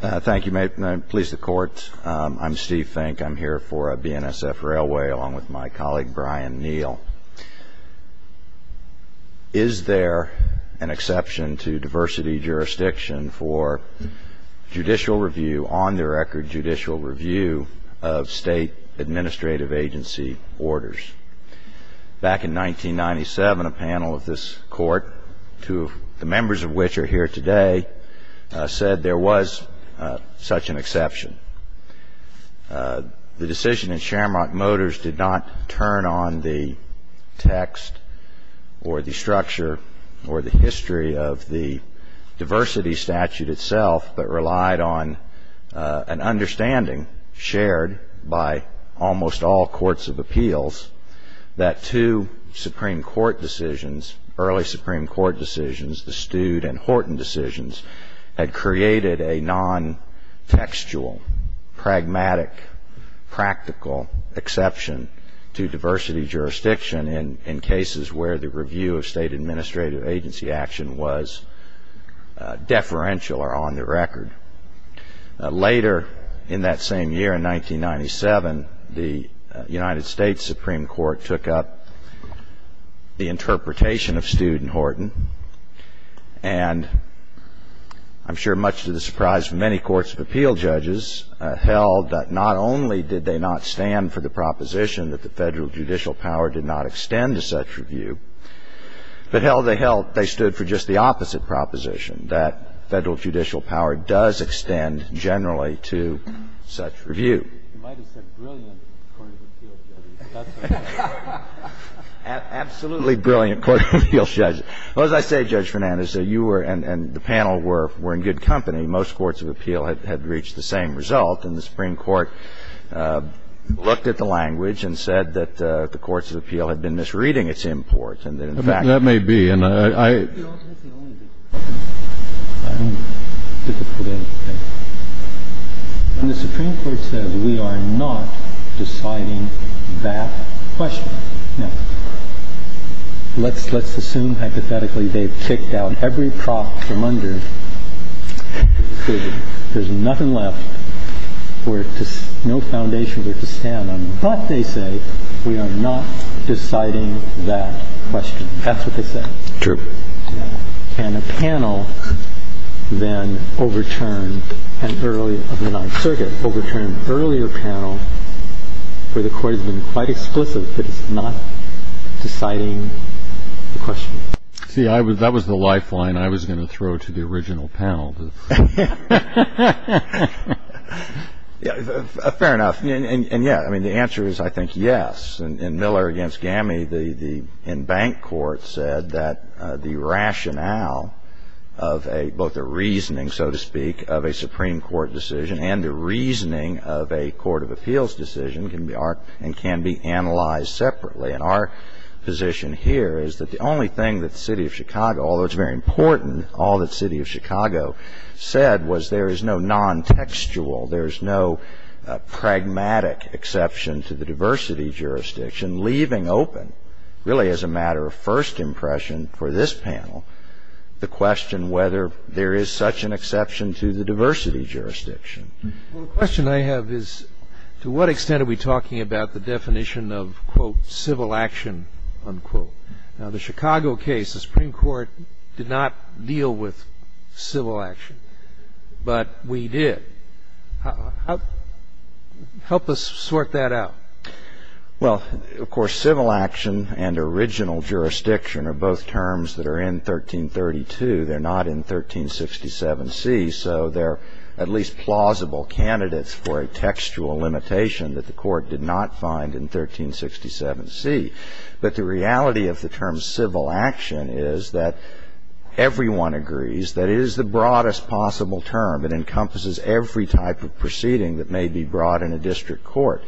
Thank you. Please, the Court. I'm Steve Fink. I'm here for BNSF Railway along with my colleague Brian Neal. Is there an exception to diversity jurisdiction for judicial review, on-the-record judicial review, of state administrative agency orders? Back in 1997, a panel of this Court, two of the members of which are here today, said there was such an exception. The decision in Shamrock Motors did not turn on the text or the structure or the history of the diversity statute itself but relied on an understanding shared by almost all courts of appeals that two Supreme Court decisions, early Supreme Court decisions, the Stude and Horton decisions, had created a non-textual, pragmatic, practical exception to diversity jurisdiction in cases where the review of state administrative agency action was deferential or on-the-record. Later, in that same year, in 1997, the United States Supreme Court took up the interpretation of Stude and Horton and, I'm sure much to the surprise of many courts of appeal judges, held that not only did they not stand for the proposition that the Federal judicial power did not extend to such review, but held they held they stood for just the opposite proposition, that Federal judicial power does extend generally to such review. You might have said brilliant court of appeals judges, but that's what I meant. Absolutely brilliant court of appeals judges. Well, as I say, Judge Fernandez, you were and the panel were in good company. Most courts of appeal had reached the same result, and the Supreme Court looked at the language and said that the courts of appeal had been misreading its import, and that, in fact, That may be, and I I'm difficult to understand. When the Supreme Court says, we are not deciding that question. Now, let's assume, hypothetically, they've kicked out every prop from under the decision. There's nothing left where no foundations are to stand on. But they say, we are not deciding that question. That's what they said. True. And a panel then overturned an earlier panel where the court has been quite explicit that it's not deciding the question. See, that was the lifeline I was going to throw to the original panel. Fair enough. And, yeah, I mean, the answer is, I think, yes. In Miller v. Gammie, the in-bank court said that the rationale of both a reasoning, so to speak, of a Supreme Court decision and the reasoning of a court of appeals decision can be analyzed separately. And our position here is that the only thing that the City of Chicago, although it's very important, all that City of Chicago said was there is no non-textual, there is no pragmatic exception to the diversity jurisdiction, leaving open, really as a matter of first impression for this panel, the question whether there is such an exception to the diversity jurisdiction. Well, the question I have is, to what extent are we talking about the definition of, quote, civil action, unquote? Now, the Chicago case, the Supreme Court did not deal with civil action, but we did. Help us sort that out. Well, of course, civil action and original jurisdiction are both terms that are in 1332. They're not in 1367C, so they're at least plausible candidates for a textual limitation that the court did not find in 1367C. But the reality of the term civil action is that everyone agrees that it is the broadest possible term. It encompasses every type of proceeding that may be brought in a district court.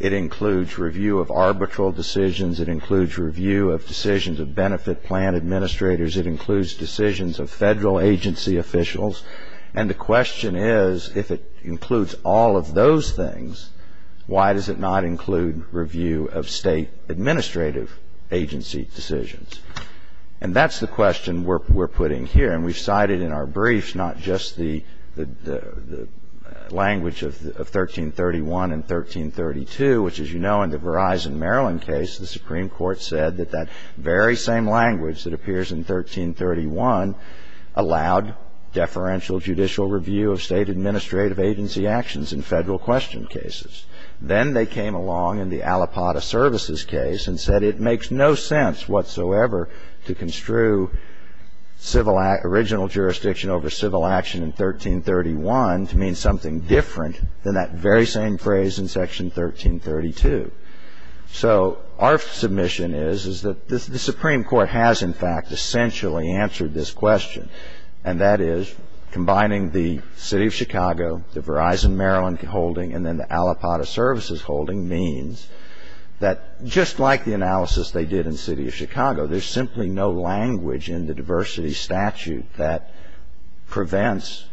It includes review of arbitral decisions. It includes review of decisions of benefit plan administrators. It includes decisions of federal agency officials. And the question is, if it includes all of those things, why does it not include review of state administrative agency decisions? And that's the question we're putting here. And we've cited in our briefs not just the language of 1331 and 1332, which, as you know, in the Verizon, Maryland case, the Supreme Court said that that very same language that appears in 1331 allowed deferential judicial review of state administrative agency actions in federal question cases. Then they came along in the Alipata Services case and said it makes no sense whatsoever to construe original jurisdiction over civil action in 1331 to mean something different than that very same phrase in Section 1332. So our submission is, is that the Supreme Court has, in fact, essentially answered this question, and that is combining the City of Chicago, the Verizon, Maryland holding, and then the Alipata Services holding means that just like the analysis they did in the City of Chicago, there's simply no language in the diversity statute that prevents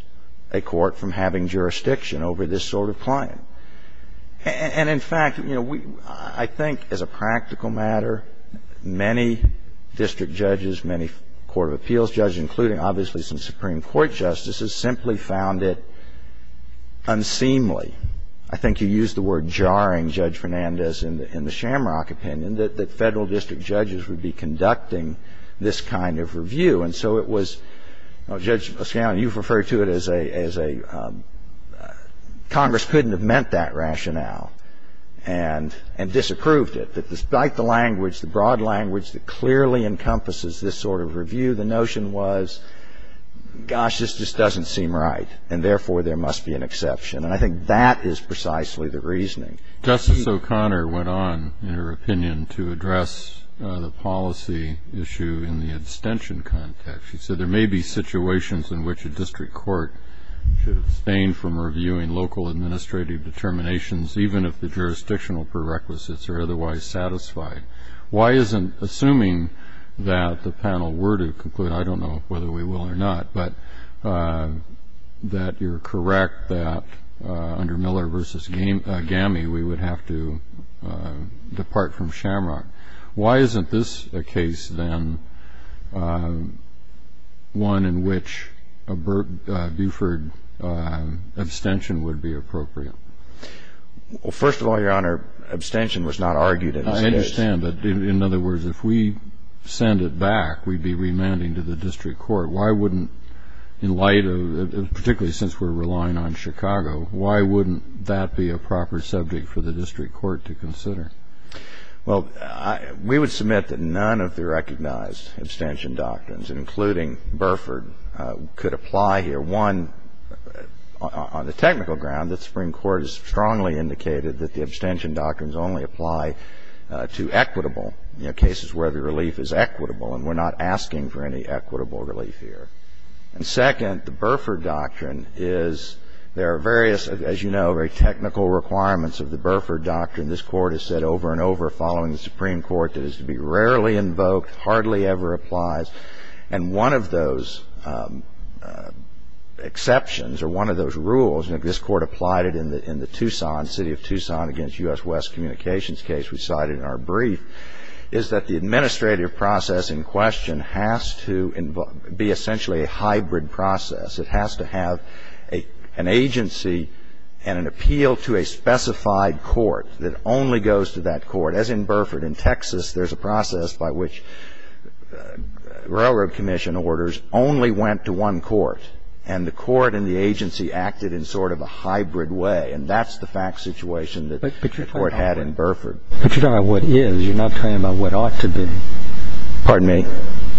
a court from having jurisdiction over this sort of claim. And, in fact, you know, I think as a practical matter, many district judges, many court of appeals judges, including obviously some Supreme Court justices, simply found it unseemly. I think you used the word jarring, Judge Fernandez, in the Shamrock opinion that federal district judges would be conducting this kind of review. And so it was, Judge O'Connor, you refer to it as a Congress couldn't have meant that rationale and disapproved it, that despite the language, the broad language, that clearly encompasses this sort of review, the notion was, gosh, this just doesn't seem right, and therefore there must be an exception. And I think that is precisely the reasoning. Justice O'Connor went on in her opinion to address the policy issue in the extension context. She said there may be situations in which a district court should abstain from reviewing local administrative determinations even if the jurisdictional prerequisites are otherwise satisfied. Why isn't assuming that the panel were to conclude, I don't know whether we will or not, but that you're correct that under Miller v. GAMI we would have to depart from Shamrock. Why isn't this a case then one in which a Buford abstention would be appropriate? Well, first of all, Your Honor, abstention was not argued in this case. I understand. But in other words, if we send it back, we'd be remanding to the district court. Why wouldn't, in light of, particularly since we're relying on Chicago, why wouldn't that be a proper subject for the district court to consider? Well, we would submit that none of the recognized abstention doctrines, including Burford, could apply here. One, on the technical ground, the Supreme Court has strongly indicated that the abstention doctrines only apply to equitable, you know, cases where the relief is equitable, and we're not asking for any equitable relief here. And second, the Burford doctrine is there are various, as you know, very technical requirements of the Burford doctrine. This Court has said over and over, following the Supreme Court, that it is to be rarely invoked, hardly ever applies. And one of those exceptions or one of those rules, and this Court applied it in the Tucson, City of Tucson against U.S. West Communications case we cited in our brief, is that the administrative process in question has to be essentially a hybrid process. It has to have an agency and an appeal to a specified court that only goes to that court. As in Burford, in Texas, there's a process by which railroad commission orders only went to one court, and the court and the agency acted in sort of a hybrid way. And that's the fact situation that the court had in Burford. But you're talking about what is. You're not talking about what ought to be. Pardon me?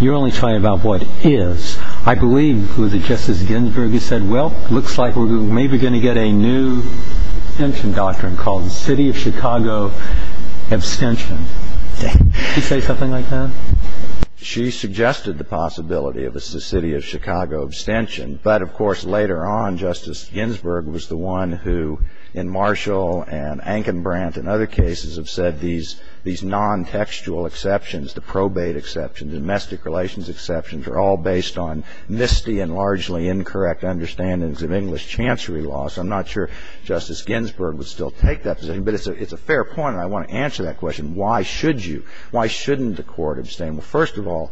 You're only talking about what is. I believe it was Justice Ginsburg who said, well, it looks like we're maybe going to get a new abstention doctrine called City of Chicago abstention. Did she say something like that? She suggested the possibility of a City of Chicago abstention. But, of course, later on, Justice Ginsburg was the one who, in Marshall and Ankenbrandt and other cases, have said these non-textual exceptions, the probate exceptions, domestic relations exceptions, are all based on misty and largely incorrect understandings of English chancery law. So I'm not sure Justice Ginsburg would still take that position. But it's a fair point, and I want to answer that question. Why should you? Why shouldn't the court abstain? Well, first of all,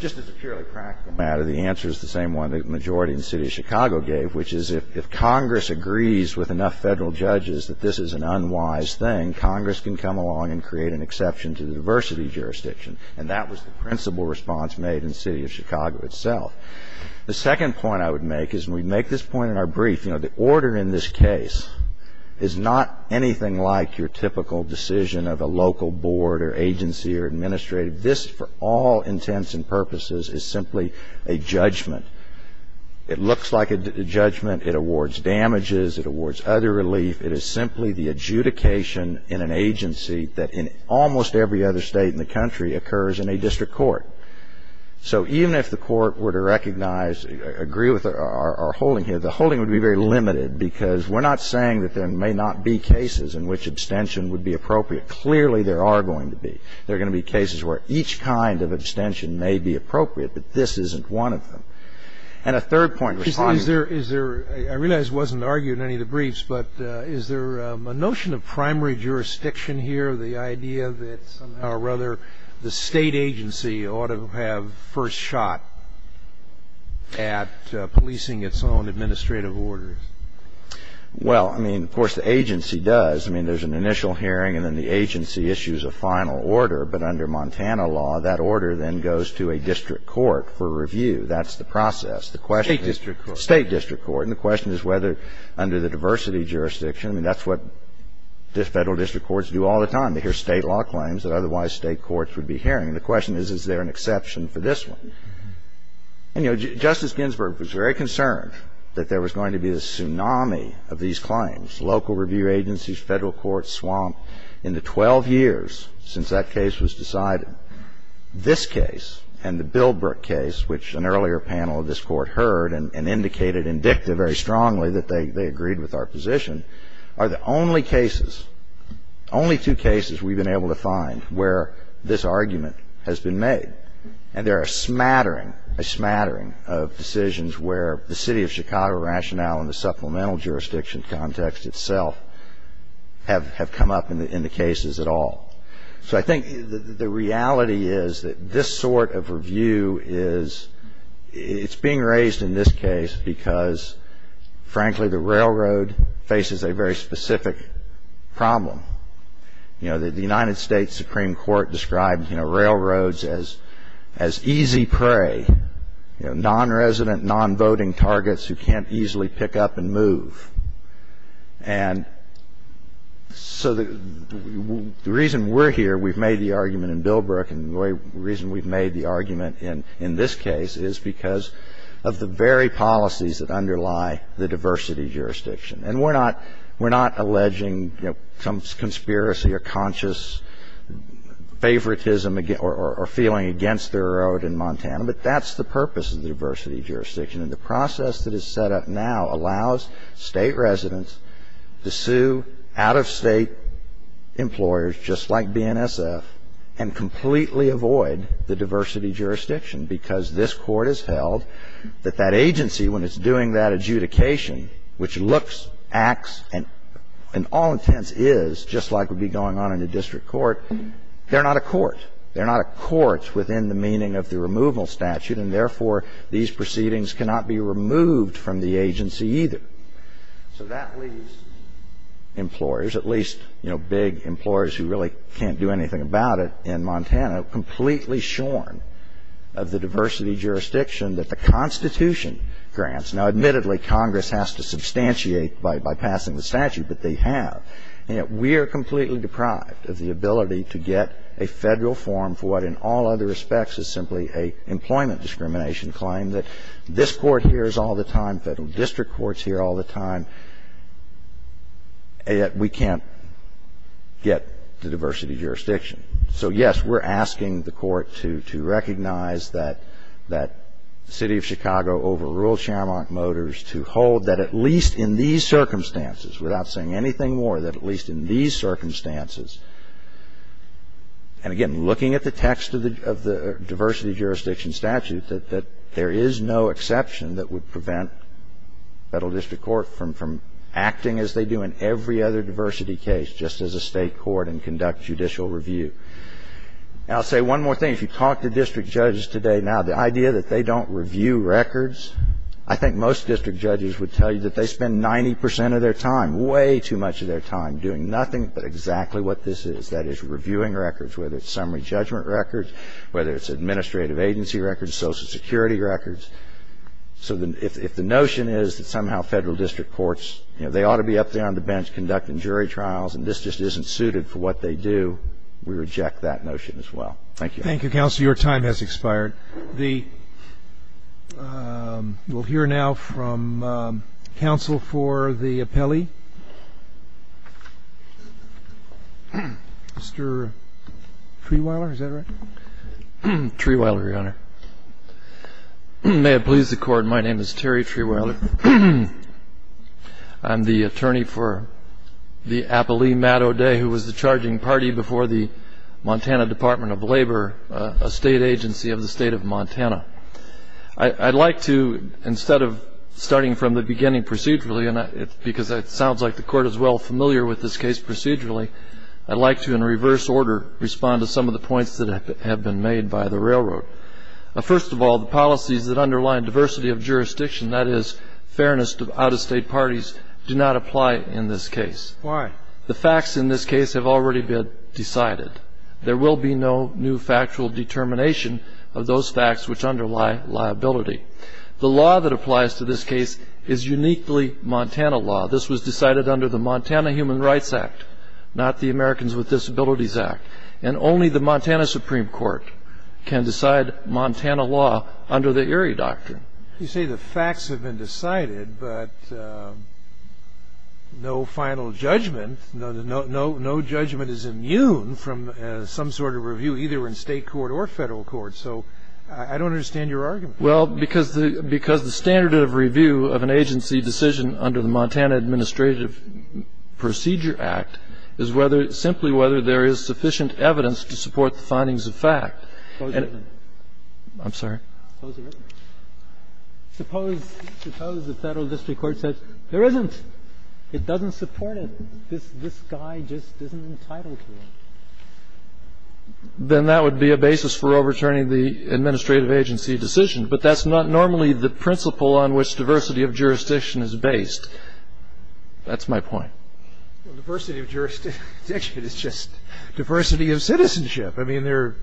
just as a purely practical matter, the answer is the same one. The answer that the majority in the City of Chicago gave, which is if Congress agrees with enough federal judges that this is an unwise thing, Congress can come along and create an exception to the diversity jurisdiction. And that was the principal response made in the City of Chicago itself. The second point I would make is, and we make this point in our brief, you know, the order in this case is not anything like your typical decision of a local board or agency or administrative. This, for all intents and purposes, is simply a judgment. It looks like a judgment. It awards damages. It awards other relief. It is simply the adjudication in an agency that in almost every other state in the country occurs in a district court. So even if the court were to recognize, agree with our holding here, the holding would be very limited, because we're not saying that there may not be cases in which abstention would be appropriate. Clearly, there are going to be. There are going to be cases where each kind of abstention may be appropriate, but this isn't one of them. And a third point to respond to. Is there – I realize it wasn't argued in any of the briefs, but is there a notion of primary jurisdiction here, the idea that somehow or other the state agency ought to have first shot at policing its own administrative orders? Well, I mean, of course, the agency does. I mean, there's an initial hearing and then the agency issues a final order, but under Montana law, that order then goes to a district court for review. That's the process. State district court. State district court. And the question is whether under the diversity jurisdiction, I mean, that's what Federal district courts do all the time. They hear State law claims that otherwise State courts would be hearing. And the question is, is there an exception for this one? And, you know, Justice Ginsburg was very concerned that there was going to be a tsunami of these claims. Local review agencies, Federal courts swamped in the 12 years since that case was decided. This case and the Bildbrook case, which an earlier panel of this Court heard and indicated indicative very strongly that they agreed with our position, are the only cases, only two cases we've been able to find where this argument has been made. And there are a smattering, a smattering of decisions where the city of Chicago rationale in the supplemental jurisdiction context itself have come up in the cases at all. So I think the reality is that this sort of review is, it's being raised in this case because, frankly, the railroad faces a very specific problem. You know, the United States Supreme Court described, you know, railroads as easy prey, you know, nonresident, nonvoting targets who can't easily pick up and move. And so the reason we're here, we've made the argument in Bildbrook, and the reason we've made the argument in this case is because of the very policies that underlie the diversity jurisdiction. And we're not alleging, you know, some conspiracy or conscious favoritism or feeling against the railroad in Montana, but that's the purpose of the diversity jurisdiction. And the process that is set up now allows State residents to sue out-of-State employers just like BNSF and completely avoid the diversity jurisdiction, because this Court has held that that agency, when it's doing that adjudication, which looks, acts, and all intents is just like would be going on in a district court, they're not a court. They're not a court within the meaning of the removal statute, and, therefore, these proceedings cannot be removed from the agency either. So that leaves employers, at least, you know, big employers who really can't do anything about it in Montana, completely shorn of the diversity jurisdiction that the Constitution grants. Now, admittedly, Congress has to substantiate by passing the statute, but they have. You know, we are completely deprived of the ability to get a Federal form for what, in all other respects, is simply a employment discrimination claim that this Court hears all the time, Federal district courts hear all the time, and yet we can't get the diversity jurisdiction. So, yes, we're asking the Court to recognize that the City of Chicago overruled without saying anything more, that at least in these circumstances, and, again, looking at the text of the diversity jurisdiction statute, that there is no exception that would prevent Federal district court from acting as they do in every other diversity case, just as a State court and conduct judicial review. And I'll say one more thing. If you talk to district judges today now, the idea that they don't review records, I think most district judges would tell you that they spend 90 percent of their time, way too much of their time, doing nothing but exactly what this is, that is, reviewing records, whether it's summary judgment records, whether it's administrative agency records, Social Security records. So if the notion is that somehow Federal district courts, you know, they ought to be up there on the bench conducting jury trials, and this just isn't suited for what they do, we reject that notion as well. Thank you. Thank you, Counsel. Your time has expired. We'll hear now from counsel for the appellee. Mr. Treweiler, is that right? Treweiler, Your Honor. May it please the Court, my name is Terry Treweiler. I'm the attorney for the appellee, Matt O'Day, who was the charging party before the Montana Department of Labor, a state agency of the state of Montana. I'd like to, instead of starting from the beginning procedurally, because it sounds like the Court is well familiar with this case procedurally, I'd like to, in reverse order, respond to some of the points that have been made by the railroad. First of all, the policies that underline diversity of jurisdiction, that is, fairness to out-of-state parties, do not apply in this case. Why? The facts in this case have already been decided. There will be no new factual determination of those facts which underlie liability. The law that applies to this case is uniquely Montana law. This was decided under the Montana Human Rights Act, not the Americans with Disabilities Act. And only the Montana Supreme Court can decide Montana law under the Erie Doctrine. You say the facts have been decided, but no final judgment. No judgment is immune from some sort of review, either in state court or federal court. So I don't understand your argument. Well, because the standard of review of an agency decision under the Montana Administrative Procedure Act is simply whether there is sufficient evidence to support the findings of fact. I'm sorry? Close the record. Suppose the federal district court says there isn't. It doesn't support it. This guy just isn't entitled to it. Then that would be a basis for overturning the administrative agency decision. But that's not normally the principle on which diversity of jurisdiction is based. That's my point. Well, diversity of jurisdiction is just diversity of citizenship. I mean, there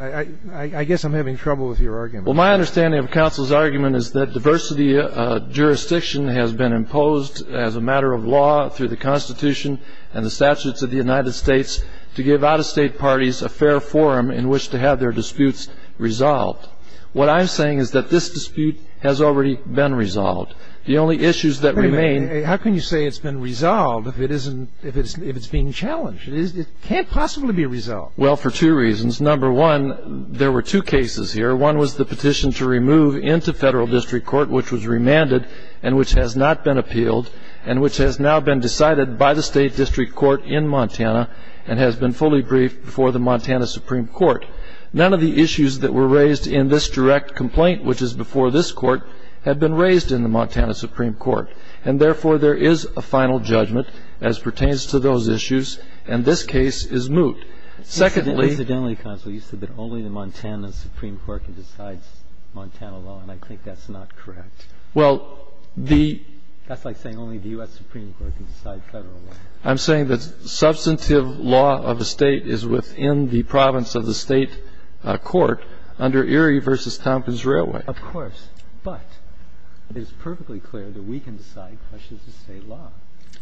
are – I guess I'm having trouble with your argument. Well, my understanding of counsel's argument is that diversity of jurisdiction has been imposed as a matter of law through the Constitution and the statutes of the United States to give out-of-state parties a fair forum in which to have their disputes resolved. What I'm saying is that this dispute has already been resolved. The only issues that remain – Wait a minute. How can you say it's been resolved if it's being challenged? It can't possibly be resolved. Well, for two reasons. Number one, there were two cases here. One was the petition to remove into federal district court, which was remanded and which has not been appealed and which has now been decided by the state district court in Montana and has been fully briefed before the Montana Supreme Court. None of the issues that were raised in this direct complaint, which is before this court, have been raised in the Montana Supreme Court, and therefore there is a final judgment as pertains to those issues, and this case is moot. Incidentally, counsel, you said that only the Montana Supreme Court can decide Montana law, and I think that's not correct. Well, the – That's like saying only the U.S. Supreme Court can decide federal law. I'm saying that substantive law of a state is within the province of the state court under Erie v. Tompkins Railway. Of course. But it is perfectly clear that we can decide questions of state law.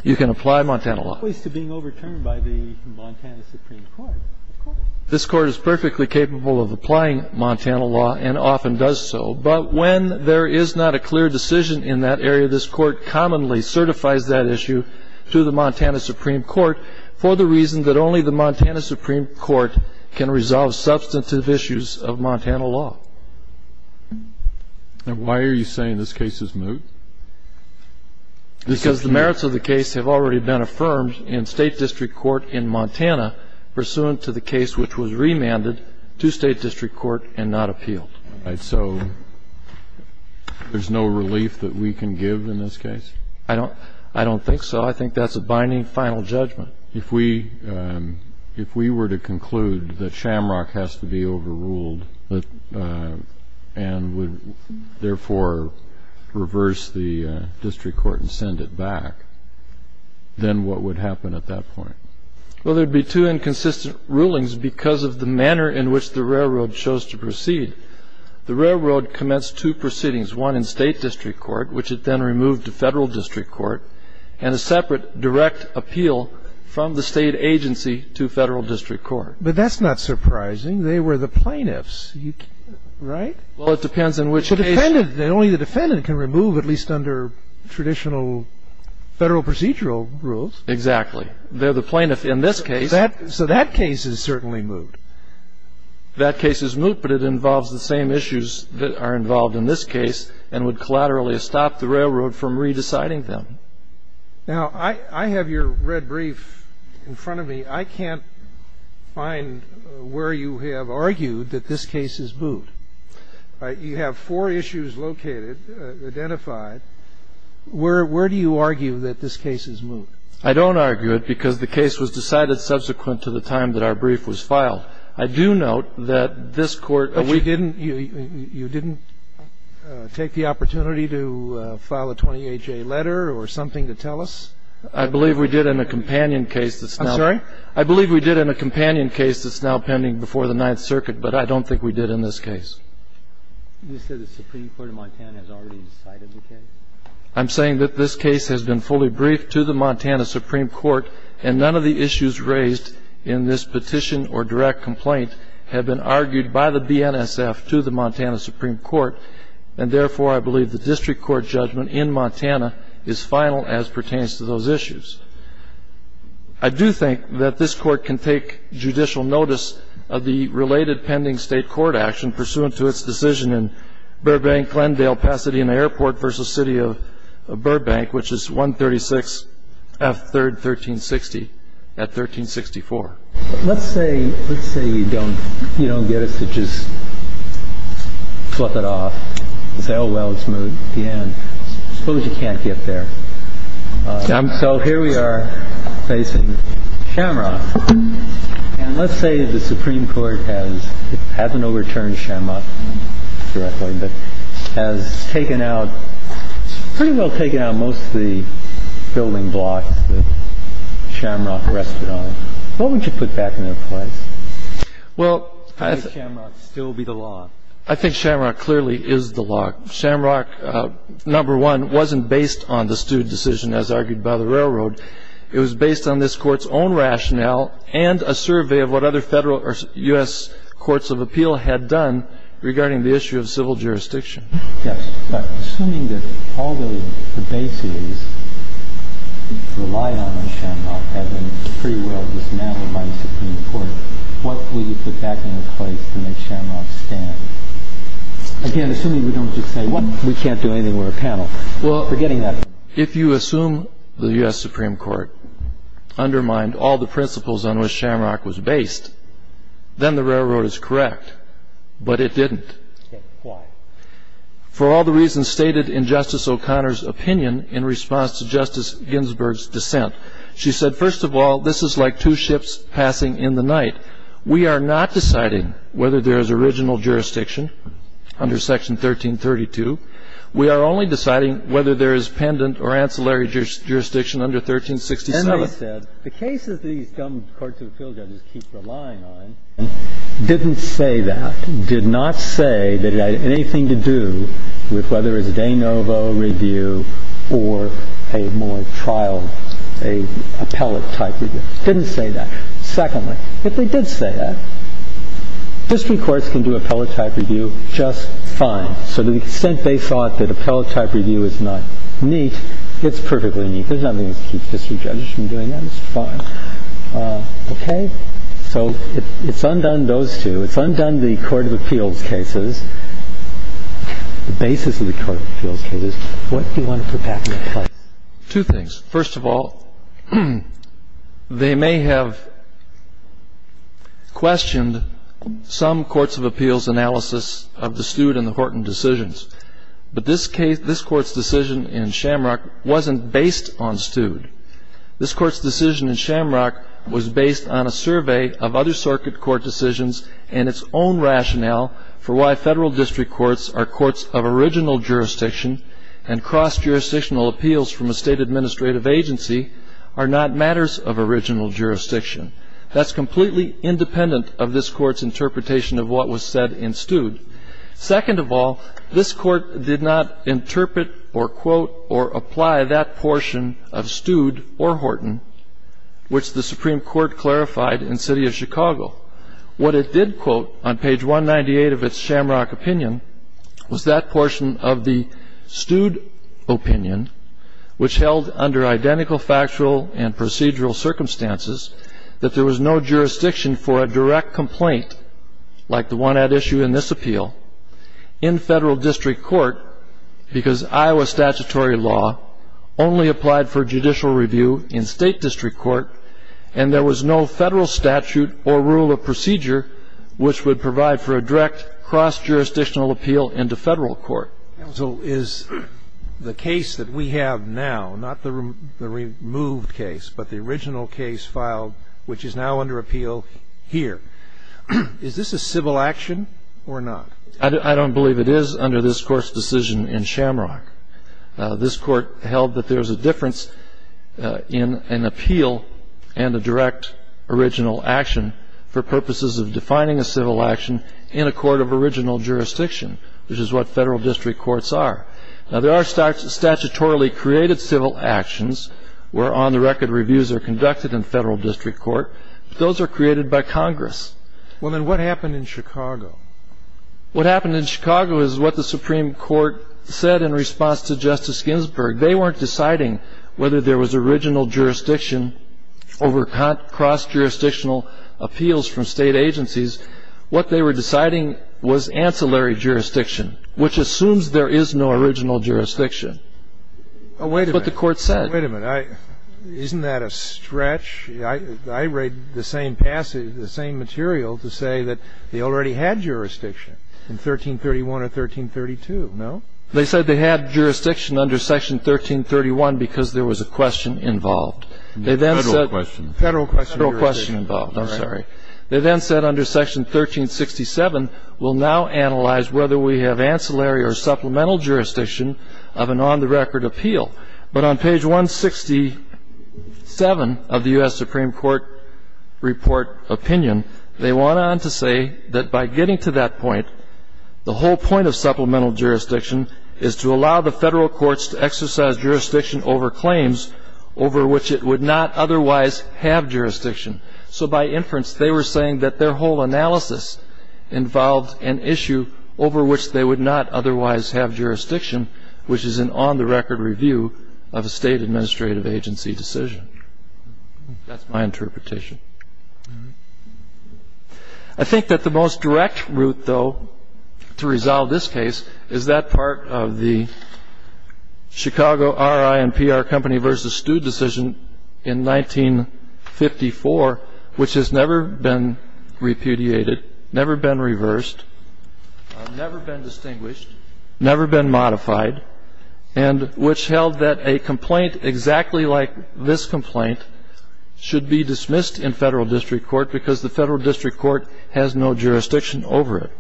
You can apply Montana law. At least to being overturned by the Montana Supreme Court. Of course. This court is perfectly capable of applying Montana law and often does so, but when there is not a clear decision in that area, this court commonly certifies that issue to the Montana Supreme Court for the reason that only the Montana Supreme Court can resolve substantive issues of Montana law. And why are you saying this case is moot? Because the merits of the case have already been affirmed in state district court in Montana pursuant to the case which was remanded to state district court and not appealed. All right. So there's no relief that we can give in this case? I don't think so. I think that's a binding final judgment. But if we were to conclude that Shamrock has to be overruled and would therefore reverse the district court and send it back, then what would happen at that point? Well, there would be two inconsistent rulings because of the manner in which the railroad chose to proceed. The railroad commenced two proceedings, one in state district court, which it then removed to federal district court, and a separate direct appeal from the state agency to federal district court. But that's not surprising. They were the plaintiffs, right? Well, it depends on which case. The defendant, only the defendant can remove, at least under traditional federal procedural rules. Exactly. They're the plaintiff in this case. So that case is certainly moot. That case is moot, but it involves the same issues that are involved in this case and would collaterally stop the railroad from re-deciding them. Now, I have your red brief in front of me. I can't find where you have argued that this case is moot. You have four issues located, identified. Where do you argue that this case is moot? I don't argue it because the case was decided subsequent to the time that our brief was filed. I do note that this Court ---- But you didn't take the opportunity to file a 28-J letter or something to tell us? I believe we did in a companion case that's now ---- I'm sorry? I believe we did in a companion case that's now pending before the Ninth Circuit, but I don't think we did in this case. You said the Supreme Court of Montana has already decided the case? I'm saying that this case has been fully briefed to the Montana Supreme Court, and none of the issues raised in this petition or direct complaint have been argued by the BNSF to the Montana Supreme Court, and therefore I believe the district court judgment in Montana is final as pertains to those issues. I do think that this Court can take judicial notice of the related pending state court action pursuant to its decision in Burbank-Glendale-Pasadena Airport v. City of Burbank, which is 136 F. 3rd, 1360 at 1364. Let's say you don't get us to just flip it off and say, oh, well, it's moved to the end. Suppose you can't get there. So here we are facing Shamrock. And let's say the Supreme Court has ---- hasn't overturned Shamrock directly, but has taken out, pretty well taken out most of the building blocks that Shamrock rested on. What would you put back into place? Well, I think Shamrock clearly is the law. Shamrock, number one, wasn't based on the stewed decision as argued by the railroad. It was based on this Court's own rationale and a survey of what other federal or U.S. courts of appeal had done regarding the issue of civil jurisdiction. Yes. Assuming that all the bases relied on Shamrock having free will was now in my Supreme Court, what would you put back into place to make Shamrock stand? Again, assuming we don't just say we can't do anything, we're a panel. Well, if you assume the U.S. Supreme Court undermined all the principles on which Shamrock was based, then the railroad is correct. But it didn't. Why? For all the reasons stated in Justice O'Connor's opinion in response to Justice Ginsburg's dissent. She said, first of all, this is like two ships passing in the night. We are not deciding whether there is original jurisdiction under Section 1332. We are only deciding whether there is pendant or ancillary jurisdiction under 1367. And she said, the cases that these government courts of appeal judges keep relying on didn't say that, did not say that it had anything to do with whether it was a de novo review or a more trial, an appellate-type review. It didn't say that. Secondly, if they did say that, district courts can do appellate-type review just fine. So to the extent they thought that appellate-type review is not neat, it's perfectly neat. There's nothing to keep district judges from doing that. It's fine. Okay? So it's undone those two. It's undone the court of appeals cases, the basis of the court of appeals cases. What do you want to put back into place? Two things. First of all, they may have questioned some courts of appeals analysis of the Stude and the Horton decisions. But this court's decision in Shamrock wasn't based on Stude. This court's decision in Shamrock was based on a survey of other circuit court decisions and its own rationale for why federal district courts are courts of original jurisdiction and cross-jurisdictional appeals from a state administrative agency are not matters of original jurisdiction. That's completely independent of this court's interpretation of what was said in Stude. Second of all, this court did not interpret or quote or apply that portion of Stude or Horton which the Supreme Court clarified in City of Chicago. What it did quote on page 198 of its Shamrock opinion was that portion of the Stude opinion, which held under identical factual and procedural circumstances that there was no jurisdiction for a direct complaint like the one at issue in this appeal in federal district court because Iowa statutory law only applied for judicial review in state district court and there was no federal statute or rule of procedure which would provide for a direct cross-jurisdictional appeal into federal court. So is the case that we have now, not the removed case, but the original case filed which is now under appeal here, is this a civil action or not? I don't believe it is under this court's decision in Shamrock. This court held that there's a difference in an appeal and a direct original action for purposes of defining a civil action in a court of original jurisdiction, which is what federal district courts are. Now there are statutorily created civil actions where on the record reviews are conducted in federal district court, but those are created by Congress. Well then what happened in Chicago? What happened in Chicago is what the Supreme Court said in response to Justice Ginsburg. They weren't deciding whether there was original jurisdiction over cross-jurisdictional appeals from state agencies. What they were deciding was ancillary jurisdiction, which assumes there is no original jurisdiction. But the court said. Wait a minute. Isn't that a stretch? I read the same passage, the same material to say that they already had jurisdiction in 1331 or 1332. No? They said they had jurisdiction under Section 1331 because there was a question involved. Federal question. Federal question. Federal question involved. I'm sorry. They then said under Section 1367, we'll now analyze whether we have ancillary or supplemental jurisdiction of an on-the-record appeal. But on page 167 of the U.S. Supreme Court report opinion, they went on to say that by getting to that point, the whole point of supplemental jurisdiction is to allow the federal courts to exercise jurisdiction over claims over which it would not otherwise have jurisdiction. So by inference, they were saying that their whole analysis involved an issue over which they would not otherwise have jurisdiction, which is an on-the-record review of a state administrative agency decision. That's my interpretation. I think that the most direct route, though, to resolve this case is that part of the never been repudiated, never been reversed, never been distinguished, never been modified, and which held that a complaint exactly like this complaint should be dismissed in federal district court because the federal district court has no jurisdiction over it.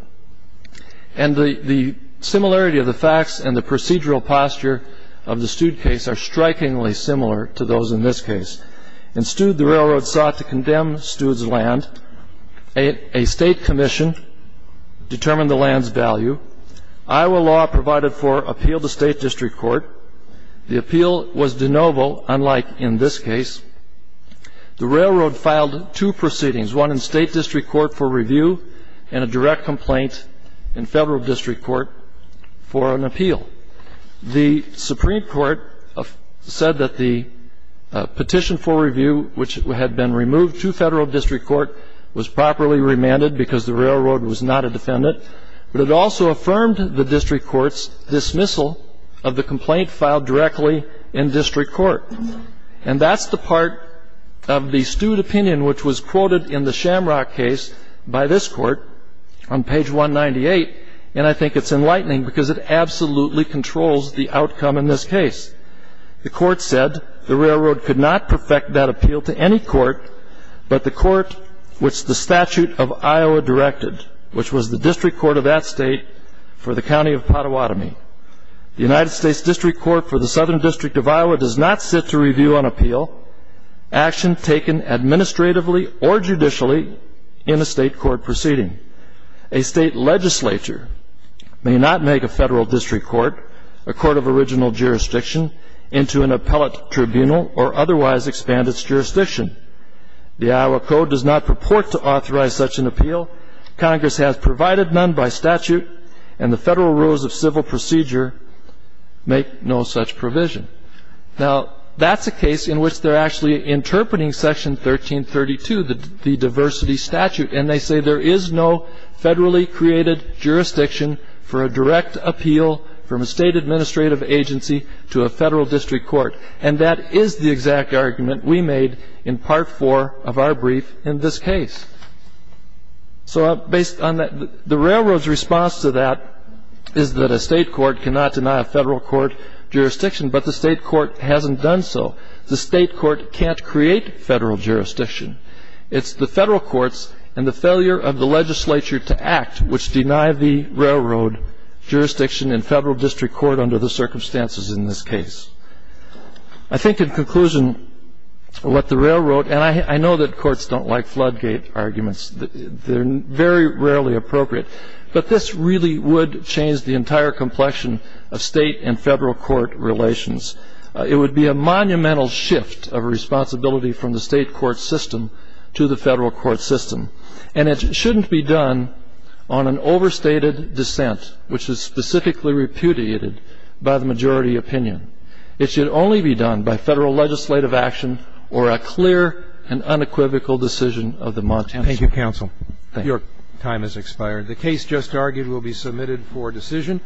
And the similarity of the facts and the procedural posture of the Stude case are strikingly similar to those in this case. In Stude, the railroad sought to condemn Stude's land. A state commission determined the land's value. Iowa law provided for appeal to state district court. The appeal was de novo, unlike in this case. The railroad filed two proceedings, one in state district court for review and a direct complaint in federal district court for an appeal. The Supreme Court said that the petition for review, which had been removed to federal district court, was properly remanded because the railroad was not a defendant, but it also affirmed the district court's dismissal of the complaint filed directly in district court. And that's the part of the Stude opinion which was quoted in the Shamrock case by this enlightening because it absolutely controls the outcome in this case. The court said the railroad could not perfect that appeal to any court but the court which the statute of Iowa directed, which was the district court of that state for the county of Pottawatomie. The United States District Court for the Southern District of Iowa does not sit to review an appeal, action taken administratively or judicially in a state court proceeding. A state legislature may not make a federal district court, a court of original jurisdiction, into an appellate tribunal or otherwise expand its jurisdiction. The Iowa Code does not purport to authorize such an appeal. Congress has provided none by statute, and the federal rules of civil procedure make no such provision. Now, that's a case in which they're actually interpreting Section 1332, the diversity statute, and they say there is no federally created jurisdiction for a direct appeal from a state administrative agency to a federal district court. And that is the exact argument we made in Part 4 of our brief in this case. So based on that, the railroad's response to that is that a state court cannot deny a federal court jurisdiction, but the state court hasn't done so. The state court can't create federal jurisdiction. It's the federal courts and the failure of the legislature to act which deny the railroad jurisdiction in federal district court under the circumstances in this case. I think, in conclusion, what the railroad, and I know that courts don't like floodgate arguments. They're very rarely appropriate. But this really would change the entire complexion of state and federal court relations. It would be a monumental shift of responsibility from the state court system to the federal court system. And it shouldn't be done on an overstated dissent, which is specifically repudiated by the majority opinion. It should only be done by federal legislative action or a clear and unequivocal decision of the Montanans. Thank you, counsel. Your time has expired. The case just argued will be submitted for decision.